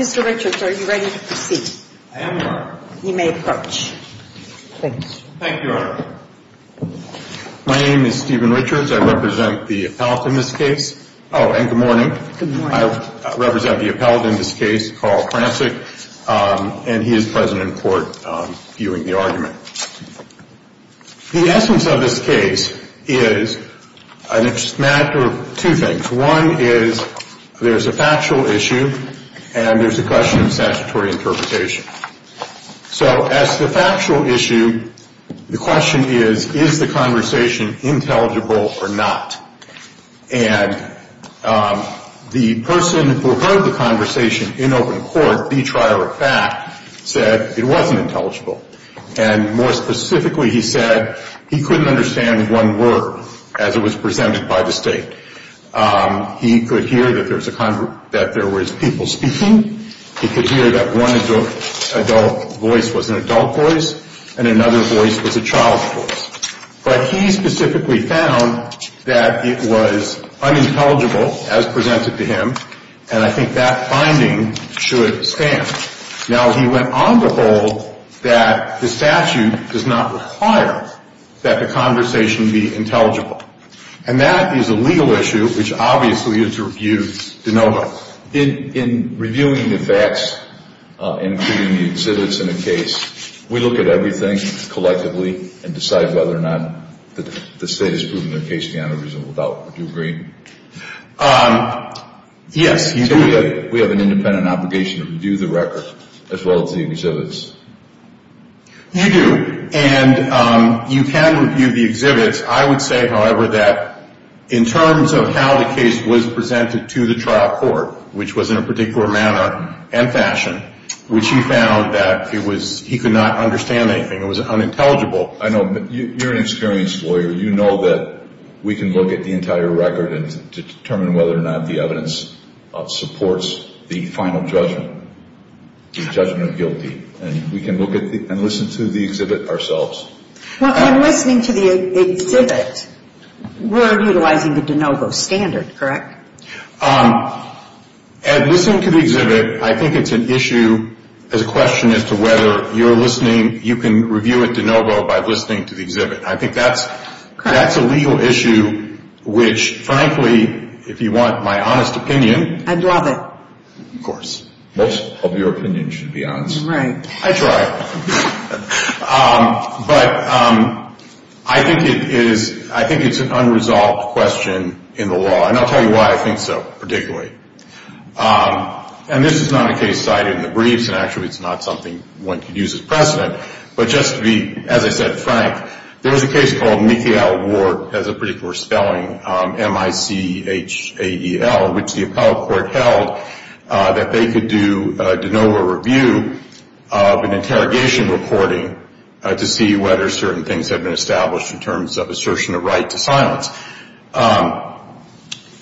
Mr. Richards, are you ready to proceed? I am, Your Honor. You may approach. Thanks. Thank you, Your Honor. My name is Stephen Richards. I represent the appellate in this case. Oh, and good morning. Good morning. I represent the appellate in this case, Carl Francik, and he is present in court viewing the argument. The essence of this case is a matter of two things. One is there's a factual issue and there's a question of statutory interpretation. So as to the factual issue, the question is, is the conversation intelligible or not? And the person who heard the conversation in open court, the trier of fact, said it wasn't intelligible. And more specifically, he said he couldn't understand one word as it was presented by the State. He could hear that there was people speaking. He could hear that one adult voice was an adult voice and another voice was a child's voice. But he specifically found that it was unintelligible as presented to him, and I think that finding should stand. Now, he went on to hold that the statute does not require that the conversation be intelligible. And that is a legal issue, which obviously is to review de novo. In reviewing the facts, including the exhibits in the case, we look at everything collectively and decide whether or not the State has proven their case beyond a reasonable doubt. Would you agree? Yes, you do. So we have an independent obligation to review the record as well as the exhibits. You do. And you can review the exhibits. I would say, however, that in terms of how the case was presented to the trial court, which was in a particular manner and fashion, which he found that he could not understand anything. It was unintelligible. I know. You're an experienced lawyer. You know that we can look at the entire record and determine whether or not the evidence supports the final judgment, the judgment of guilty. And we can look at and listen to the exhibit ourselves. Well, in listening to the exhibit, we're utilizing the de novo standard, correct? In listening to the exhibit, I think it's an issue, there's a question as to whether you're listening, you can review it de novo by listening to the exhibit. I think that's a legal issue, which frankly, if you want my honest opinion. I'd love it. Of course. Most of your opinion should be honest. Right. I try. But I think it is, I think it's an unresolved question in the law. And I'll tell you why I think so, particularly. And this is not a case cited in the briefs, and actually it's not something one could use as precedent. But just to be, as I said, frank, there was a case called Mikael Ward, as a particular spelling, M-I-C-H-A-E-L, which the appellate court held that they could do a de novo review of an interrogation reporting to see whether certain things had been established in terms of assertion of right to silence.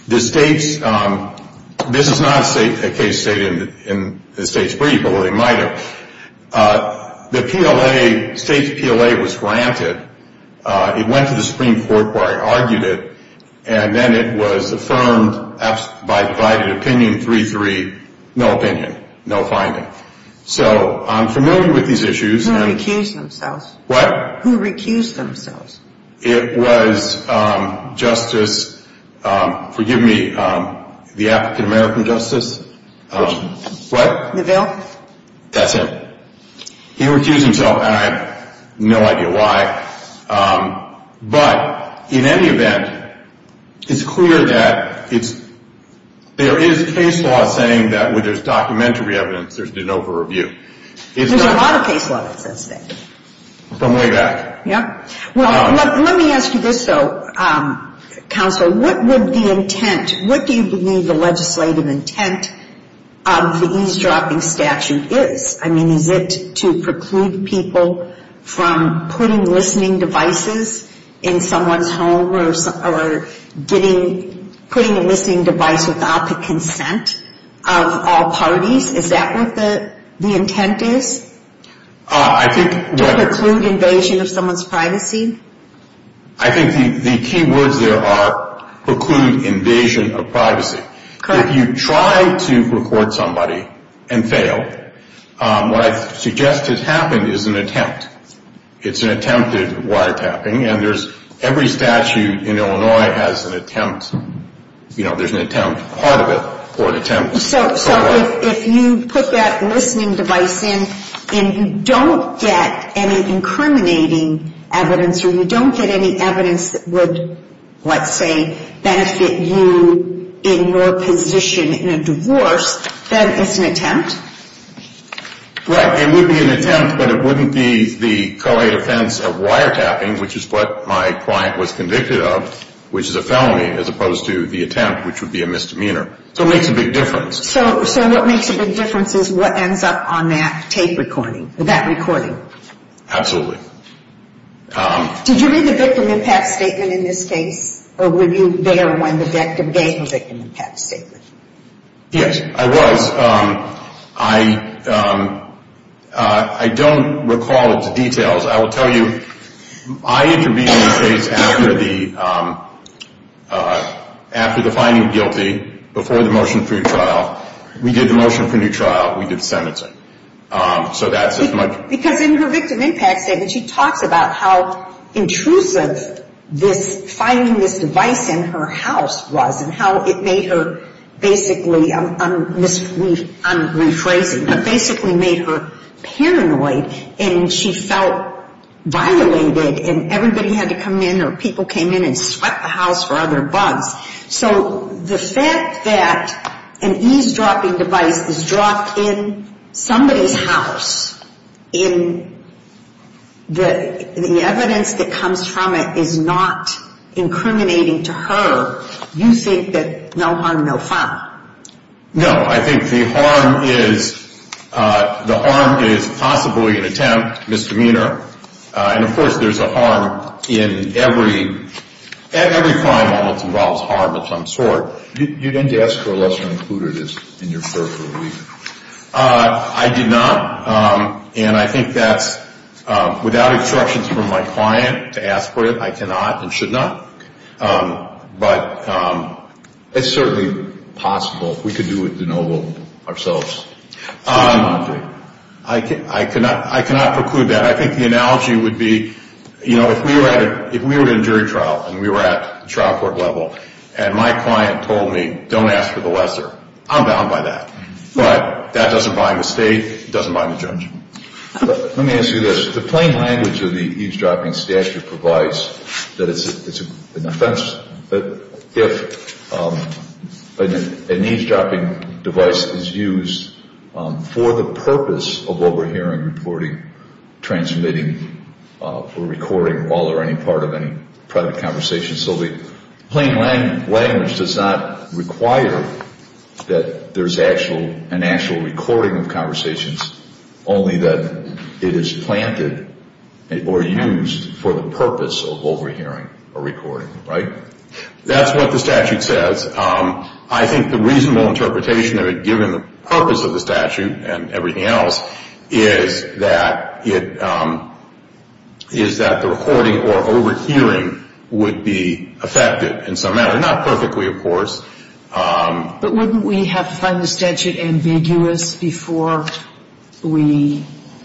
The state's, this is not a case stated in the state's brief, although they might have. The PLA, state's PLA was granted. It went to the Supreme Court where it argued it, and then it was affirmed by divided opinion 3-3, no opinion, no finding. So, I'm familiar with these issues. Who recused themselves? What? Who recused themselves? It was Justice, forgive me, the African American Justice, what? Neville? That's it. He recused himself, and I have no idea why. But, in any event, it's clear that it's, there is case law saying that when there's documentary evidence, there's de novo review. There's a lot of case law that says that. From way back. Yeah. Well, let me ask you this, though, counsel. What would the intent, what do you believe the legislative intent of the eavesdropping statute is? I mean, is it to preclude people from putting listening devices in someone's home or getting, putting a listening device without the consent of all parties? Is that what the intent is? I think. To preclude invasion of someone's privacy? I think the key words there are preclude invasion of privacy. Correct. If you try to record somebody and fail, what I suggest has happened is an attempt. It's an attempted wiretapping, and there's, every statute in Illinois has an attempt. You know, there's an attempt, part of it, or an attempt. So, if you put that listening device in, and you don't get any incriminating evidence, or you don't get any evidence that would, let's say, benefit you in your position in a divorce, then it's an attempt. Right. It would be an attempt, but it wouldn't be the co-ed offense of wiretapping, which is what my client was convicted of, which is a felony, as opposed to the attempt, which would be a misdemeanor. So it makes a big difference. So what makes a big difference is what ends up on that tape recording, that recording. Absolutely. Did you read the victim impact statement in this case, or were you there when the victim gave the victim impact statement? Yes, I was. I don't recall its details. I will tell you, I intervened in this case after the finding of guilty, before the motion for your trial. We did the motion for new trial. We did the sentencing. Because in her victim impact statement, she talks about how intrusive finding this device in her house was and how it made her basically, I'm rephrasing, but basically made her paranoid, and she felt violated, and everybody had to come in, or people came in and swept the house for other bugs. So the fact that an eavesdropping device is dropped in somebody's house, and the evidence that comes from it is not incriminating to her, you think that no harm, no fun? No. I think the harm is possibly an attempt, misdemeanor, and, of course, there's a harm in every crime almost involves harm of some sort. You didn't ask for a lesser included as in your first review. I did not, and I think that's, without instructions from my client to ask for it, I cannot and should not. But it's certainly possible. We could do it de novo ourselves. I cannot preclude that. I think the analogy would be, you know, if we were in a jury trial and we were at trial court level and my client told me don't ask for the lesser, I'm down by that. But that doesn't bind the state. It doesn't bind the judge. Let me ask you this. The plain language of the eavesdropping statute provides that it's an offense if an eavesdropping device is used for the purpose of overhearing, reporting, transmitting, or recording all or any part of any private conversation. So the plain language does not require that there's an actual recording of conversations, only that it is planted or used for the purpose of overhearing or recording, right? That's what the statute says. I think the reasonable interpretation of it, given the purpose of the statute and everything else, is that the recording or overhearing would be affected in some manner. Not perfectly, of course. But wouldn't we have to find the statute ambiguous before we –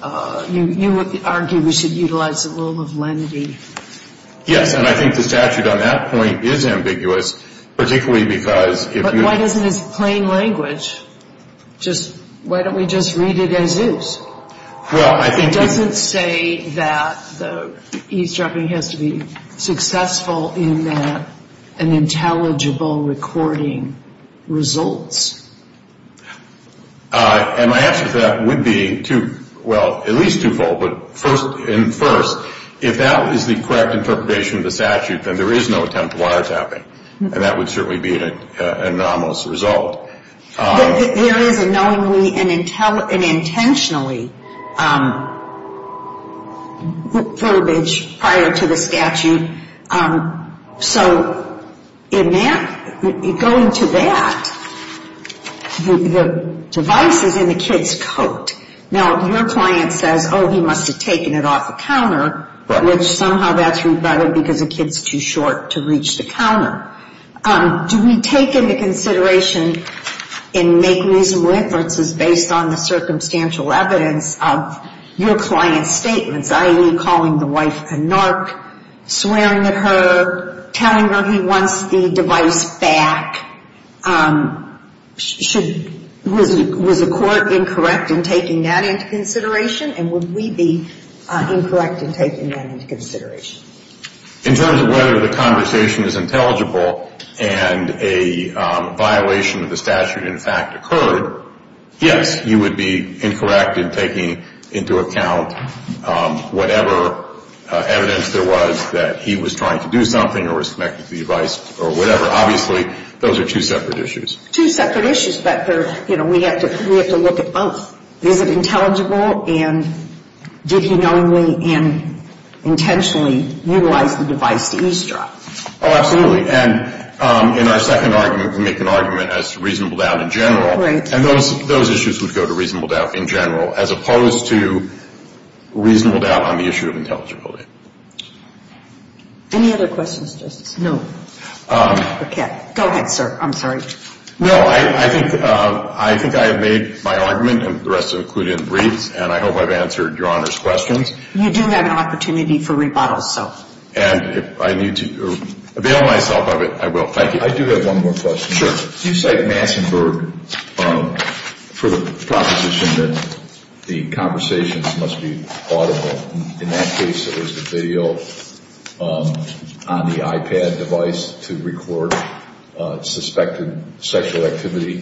you would argue we should utilize the rule of lenity? Yes. And I think the statute on that point is ambiguous, particularly because if you – But why doesn't this plain language just – why don't we just read it as is? Well, I think – And my answer to that would be two – well, at least twofold. But first – and first, if that is the correct interpretation of the statute, then there is no attempt at wiretapping, and that would certainly be an anomalous result. There is a knowingly and intentionally verbiage prior to the statute. So in that – going to that, the device is in the kid's coat. Now, your client says, oh, he must have taken it off the counter, which somehow that's rebutted because the kid's too short to reach the counter. Do we take into consideration and make reasonable inferences based on the circumstantial evidence of your client's statements, i.e., calling the wife a narc, swearing at her, telling her he wants the device back? Was the court incorrect in taking that into consideration? And would we be incorrect in taking that into consideration? In terms of whether the conversation is intelligible and a violation of the statute, in fact, occurred, yes. You would be incorrect in taking into account whatever evidence there was that he was trying to do something or was connected to the device or whatever. Obviously, those are two separate issues. Two separate issues, but they're – you know, we have to look at both. Is it intelligible, and did he knowingly and intentionally utilize the device to eavesdrop? Oh, absolutely. And in our second argument, we make an argument as to reasonable doubt in general. Right. And those issues would go to reasonable doubt in general as opposed to reasonable doubt on the issue of intelligibility. Any other questions, Justice? No. Okay. Go ahead, sir. I'm sorry. No, I think I have made my argument, and the rest of it included in the briefs, and I hope I've answered Your Honor's questions. You do have an opportunity for rebuttal, so. And if I need to avail myself of it, I will. Thank you. I do have one more question. Sure. You cite Mansonburg for the proposition that the conversations must be audible. In that case, it was the video on the iPad device to record suspected sexual activity,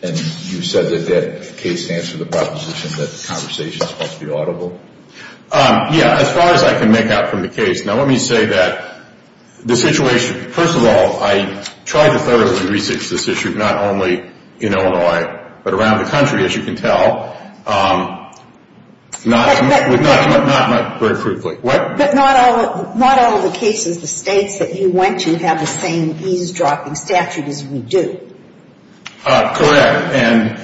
and you said that that case answered the proposition that conversations must be audible. Yeah, as far as I can make out from the case. Now, let me say that the situation, first of all, I tried to thoroughly research this issue, not only in Illinois, but around the country, as you can tell. But not all the cases, the states that you went to, have the same eavesdropping statute as we do. Correct. And,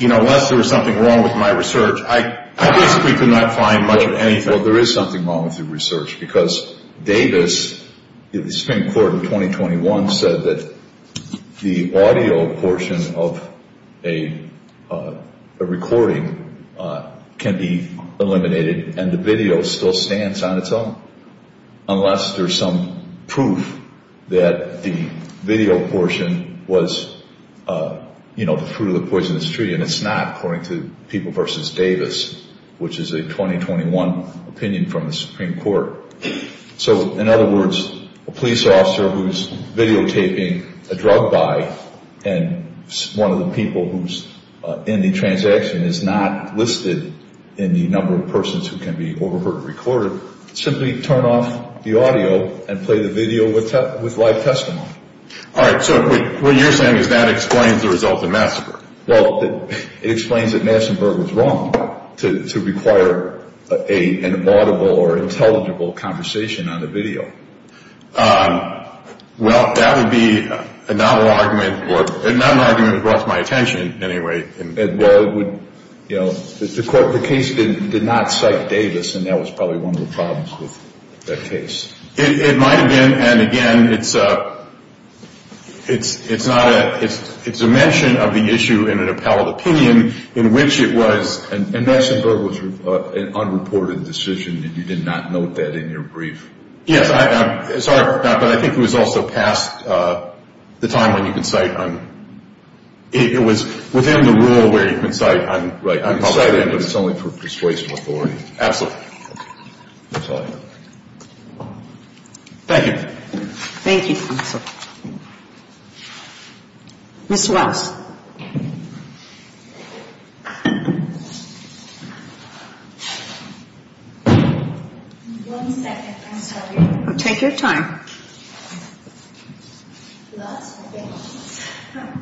you know, unless there was something wrong with my research, I basically could not find much of anything. Well, there is something wrong with your research, because Davis, the Supreme Court in 2021, said that the audio portion of a recording can be eliminated, and the video still stands on its own, unless there's some proof that the video portion was, you know, the fruit of the poisonous tree. And it's not, according to People v. Davis, which is a 2021 opinion from the Supreme Court. So, in other words, a police officer who's videotaping a drug buy, and one of the people who's in the transaction is not listed in the number of persons who can be overheard recorded, simply turn off the audio and play the video with live testimony. All right, so what you're saying is that explains the result of the massacre. Well, it explains that Massenburg was wrong to require an audible or intelligible conversation on the video. Well, that would be a novel argument, or not an argument that brought to my attention, anyway. Well, it would, you know, the court, the case did not cite Davis, and that was probably one of the problems with that case. It might have been, and again, it's a mention of the issue in an appellate opinion in which it was, and Massenburg was an unreported decision, and you did not note that in your brief. Yes, I'm sorry, but I think it was also past the time when you can cite, it was within the rule where you can cite, but it's only for persuasion of authority. Absolutely. That's all I have. Thank you. Thank you, counsel. Ms. Wells. One second, I'm sorry. Take your time. A lot of things.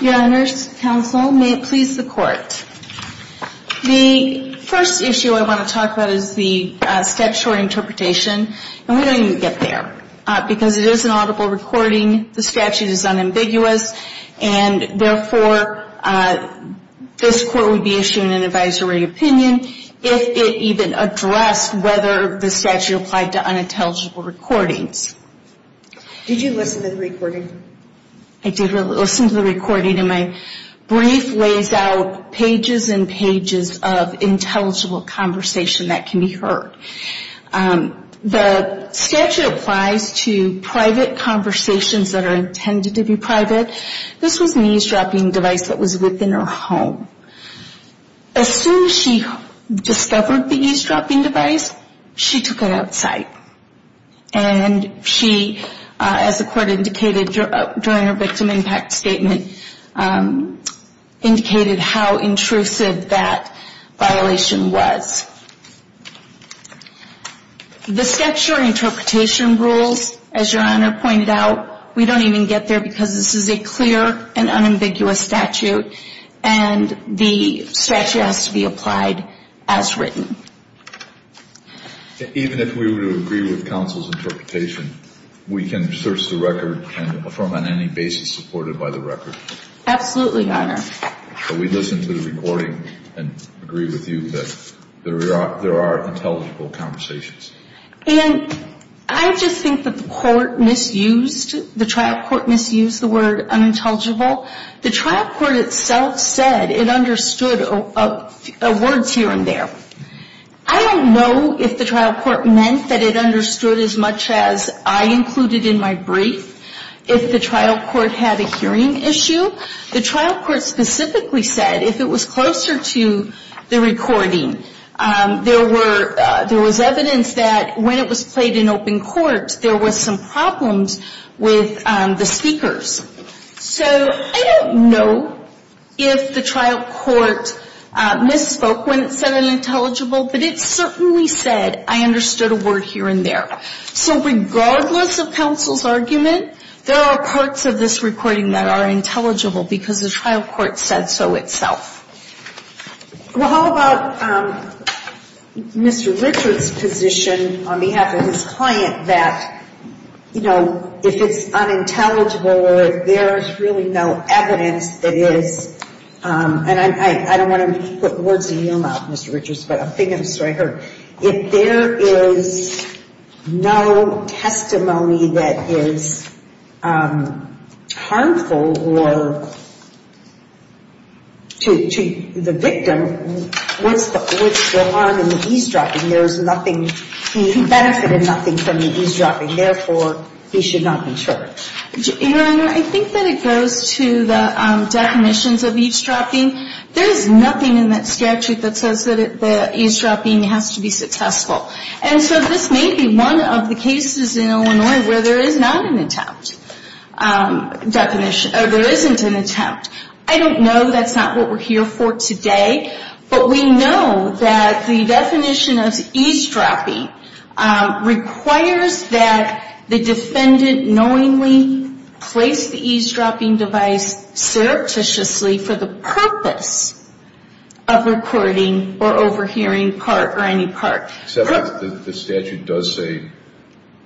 Your Honors, counsel, may it please the court. The first issue I want to talk about is the statutory interpretation, and we don't even get there, because it is an audible recording, the statute is unambiguous, and therefore this court would be issuing an advisory opinion if it even addressed whether the statute is unambiguous. The statute applied to unintelligible recordings. Did you listen to the recording? I did listen to the recording, and my brief lays out pages and pages of intelligible conversation that can be heard. The statute applies to private conversations that are intended to be private. This was an eavesdropping device that was within her home. As soon as she discovered the eavesdropping device, she took it outside, and she, as the court indicated during her victim impact statement, indicated how intrusive that violation was. The statutory interpretation rules, as Your Honor pointed out, we don't even get there because this is a clear and unambiguous statute, and the statute has to be applied as written. Even if we were to agree with counsel's interpretation, we can search the record and affirm on any basis supported by the record? Absolutely, Your Honor. Can we listen to the recording and agree with you that there are intelligible conversations? And I just think that the court misused, the trial court misused the word unintelligible. The trial court itself said it understood words here and there. I don't know if the trial court meant that it understood as much as I included in my brief, if the trial court had a hearing issue. The trial court specifically said if it was closer to the recording, there was evidence that when it was played in open court, there was some problems with the speakers. So I don't know if the trial court misspoke when it said unintelligible, but it certainly said I understood a word here and there. So regardless of counsel's argument, there are parts of this recording that are intelligible because the trial court said so itself. Well, how about Mr. Richard's position on behalf of his client that, you know, if it's unintelligible or there is really no evidence that is, and I don't want to put words in your mouth, Mr. Richards, but I'm thinking of the story I heard. If there is no testimony that is harmful or to the victim, what's the harm in the eavesdropping? There is nothing. He benefited nothing from the eavesdropping. Therefore, he should not be charged. Your Honor, I think that it goes to the definitions of eavesdropping. There is nothing in that statute that says that the eavesdropping has to be successful. And so this may be one of the cases in Illinois where there is not an attempt definition or there isn't an attempt. I don't know. That's not what we're here for today. But we know that the definition of eavesdropping requires that the defendant knowingly place the eavesdropping device surreptitiously for the purpose of recording or overhearing part or any part. Except that the statute does say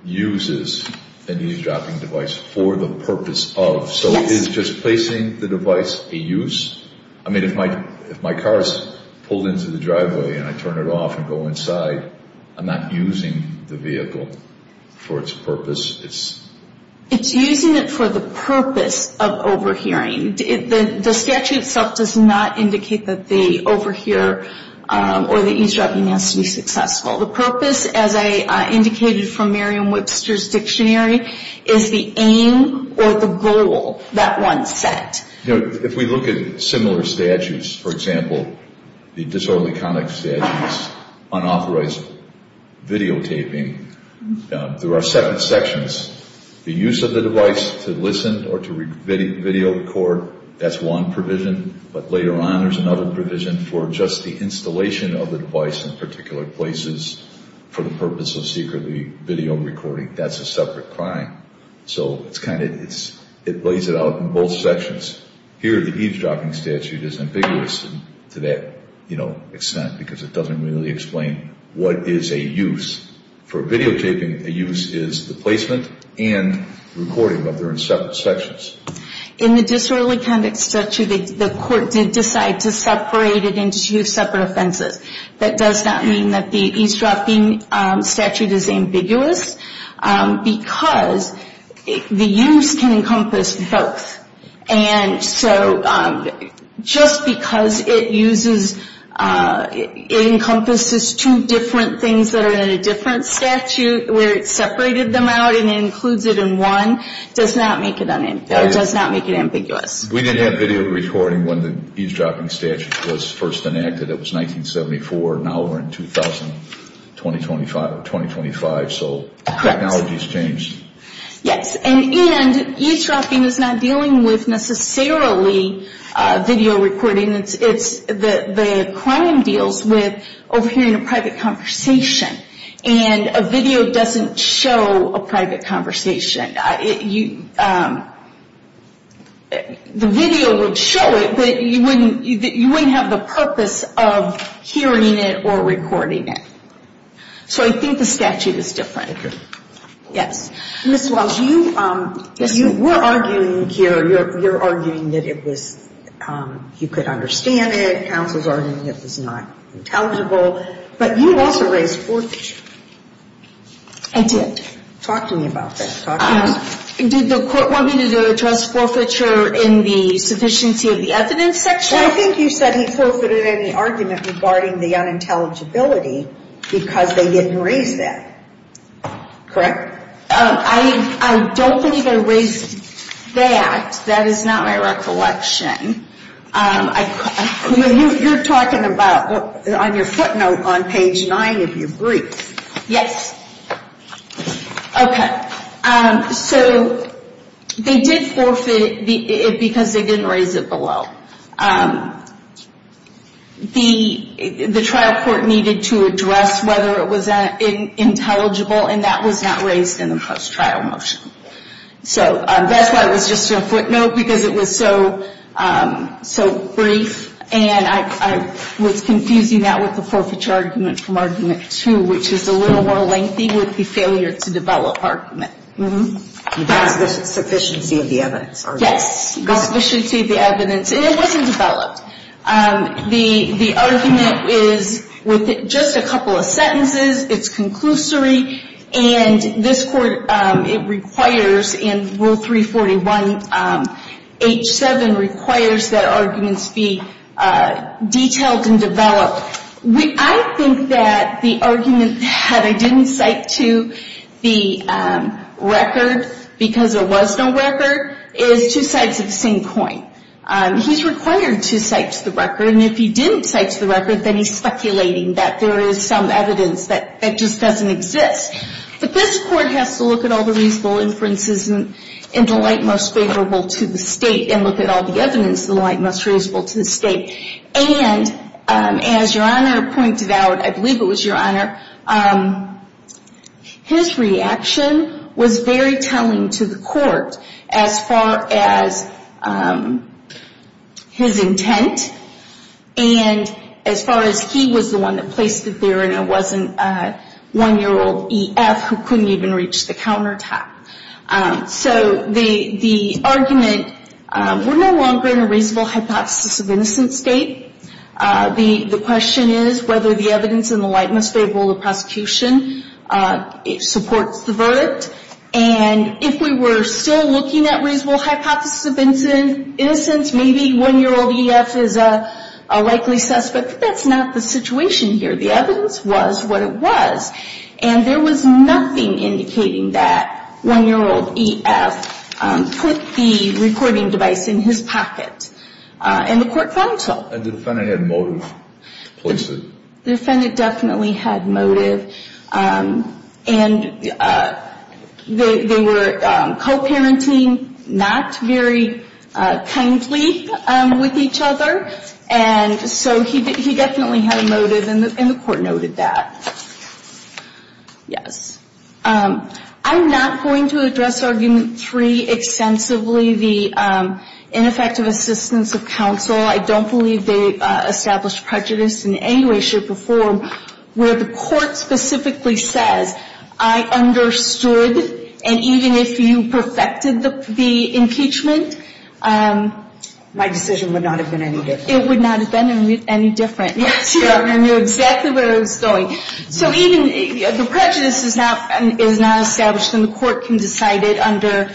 uses an eavesdropping device for the purpose of. So is just placing the device a use? I mean, if my car is pulled into the driveway and I turn it off and go inside, I'm not using the vehicle for its purpose. It's using it for the purpose of overhearing. The statute itself does not indicate that the overhear or the eavesdropping has to be successful. The purpose, as I indicated from Merriam-Webster's dictionary, is the aim or the goal that one set. If we look at similar statutes, for example, the disorderly conduct statute is unauthorized videotaping. There are separate sections. The use of the device to listen or to video record, that's one provision. But later on there's another provision for just the installation of the device in particular places for the purpose of secretly video recording. That's a separate crime. So it lays it out in both sections. Here the eavesdropping statute is ambiguous to that extent because it doesn't really explain what is a use. For videotaping, a use is the placement and recording, but they're in separate sections. In the disorderly conduct statute, the court did decide to separate it into two separate offenses. That does not mean that the eavesdropping statute is ambiguous because the use can encompass both. And so just because it uses, it encompasses two different things that are in a different statute where it separated them out and includes it in one, does not make it ambiguous. We did have video recording when the eavesdropping statute was first enacted. It was 1974. Now we're in 2000, 2025. So technology has changed. Yes. And eavesdropping is not dealing with necessarily video recording. The crime deals with overhearing a private conversation, and a video doesn't show a private conversation. The video would show it, but you wouldn't have the purpose of hearing it or recording it. So I think the statute is different. Yes. Ms. Wells, you were arguing here, you're arguing that it was, you could understand it, counsel's arguing it was not intelligible, but you also raised four issues. I did. Talk to me about that. Did the court want me to address forfeiture in the sufficiency of the evidence section? I think you said he forfeited any argument regarding the unintelligibility because they didn't raise that. Correct? I don't think I raised that. That is not my recollection. You're talking about on your footnote on page 9 of your brief. Yes. Okay. So they did forfeit it because they didn't raise it below. The trial court needed to address whether it was intelligible, and that was not raised in the post-trial motion. So that's why it was just your footnote, because it was so brief, and I was confusing that with the forfeiture argument from argument 2, which is a little more lengthy with the failure to develop argument. The sufficiency of the evidence argument. Yes, the sufficiency of the evidence, and it wasn't developed. The argument is with just a couple of sentences. It's conclusory, and this Court, it requires in Rule 341H7, requires that arguments be detailed and developed. I think that the argument, had I didn't cite to the record, because there was no record, is two sides of the same coin. He's required to cite to the record, and if he didn't cite to the record, then he's speculating that there is some evidence that just doesn't exist. But this Court has to look at all the reasonable inferences and the like most favorable to the State, and look at all the evidence the like most reasonable to the State. And as Your Honor pointed out, I believe it was Your Honor, his reaction was very telling to the Court as far as his intent, and as far as he was the one that placed it there, and it wasn't one-year-old E.F. who couldn't even reach the countertop. So the argument, we're no longer in a reasonable hypothesis of innocence state. The question is whether the evidence in the like most favorable to prosecution supports the verdict. And if we were still looking at reasonable hypothesis of innocence, maybe one-year-old E.F. is a likely suspect, but that's not the situation here. The evidence was what it was. And there was nothing indicating that one-year-old E.F. put the recording device in his pocket. And the Court found so. And the defendant had motive to place it? The defendant definitely had motive. And they were co-parenting, not very kindly with each other. And so he definitely had a motive, and the Court noted that. Yes. I'm not going to address Argument 3 extensively, the ineffective assistance of counsel. I don't believe they established prejudice in any way, shape, or form where the Court specifically says, I understood, and even if you perfected the impeachment, my decision would not have been any different. It would not have been any different. Yes. I knew exactly where I was going. So even the prejudice is not established, and the Court can decide it under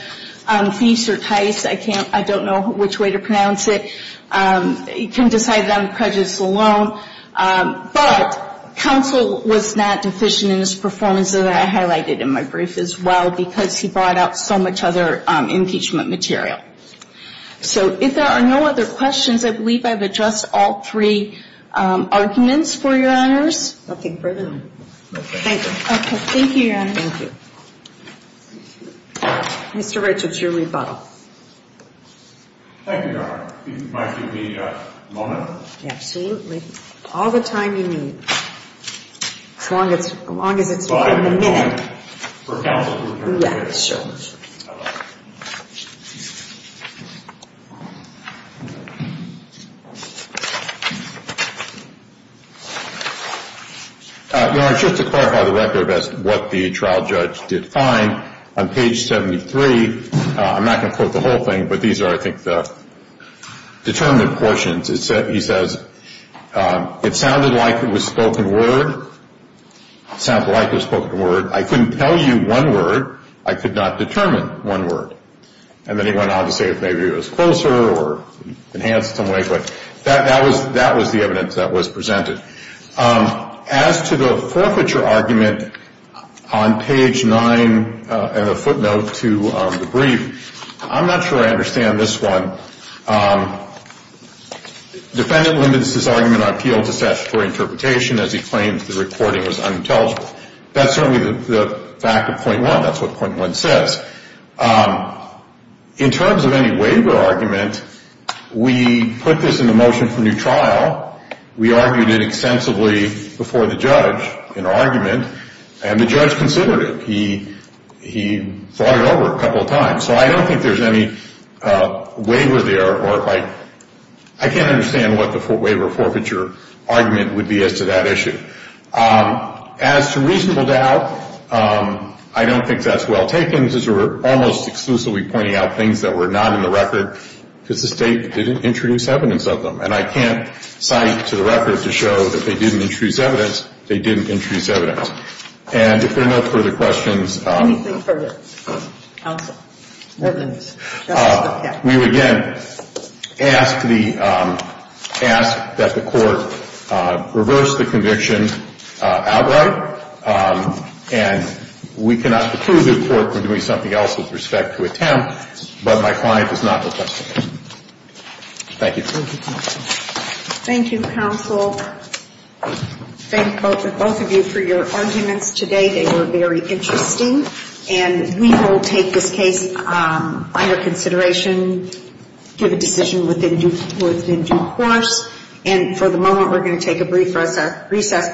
Feast or Tice. I don't know which way to pronounce it. It can decide it on prejudice alone. But counsel was not deficient in his performance, as I highlighted in my brief as well, because he brought out so much other impeachment material. So if there are no other questions, I believe I've addressed all three arguments for Your Honors. Nothing further. Okay. Thank you. Okay. Thank you, Your Honor. Thank you. Mr. Richards, your rebuttal. Thank you, Your Honor. If you might give me a moment. Absolutely. All the time you need, as long as it's not in the minute. Your Honor, just to clarify the record as to what the trial judge did find, on page 73, I'm not going to quote the whole thing, but these are, I think, the determinant portions. He says, it sounded like it was spoken word. It sounded like it was spoken word. I think it was spoken word. I couldn't tell you one word. I could not determine one word. And then he went on to say maybe it was closer or enhanced in some way. But that was the evidence that was presented. As to the forfeiture argument on page 9 and a footnote to the brief, I'm not sure I understand this one. Defendant limits his argument on appeal to statutory interpretation as he claims the recording was unintelligible. That's certainly the fact of point one. That's what point one says. In terms of any waiver argument, we put this in the motion for new trial. We argued it extensively before the judge in argument, and the judge considered it. He fought it over a couple of times. So I don't think there's any waiver there, or I can't understand what the waiver forfeiture argument would be as to that issue. As to reasonable doubt, I don't think that's well taken, since we're almost exclusively pointing out things that were not in the record because the state didn't introduce evidence of them. And I can't cite to the record to show that they didn't introduce evidence. They didn't introduce evidence. And if there are no further questions. Anything further? Counsel. We would again ask the, ask that the court reverse the conviction outright. And we cannot prove the court for doing something else with respect to attempt, but my client is not the judge. Thank you. Thank you, counsel. Thank both of you for your arguments today. They were very interesting. And we will take this case under consideration, give a decision within due course. And for the moment, we're going to take a recess.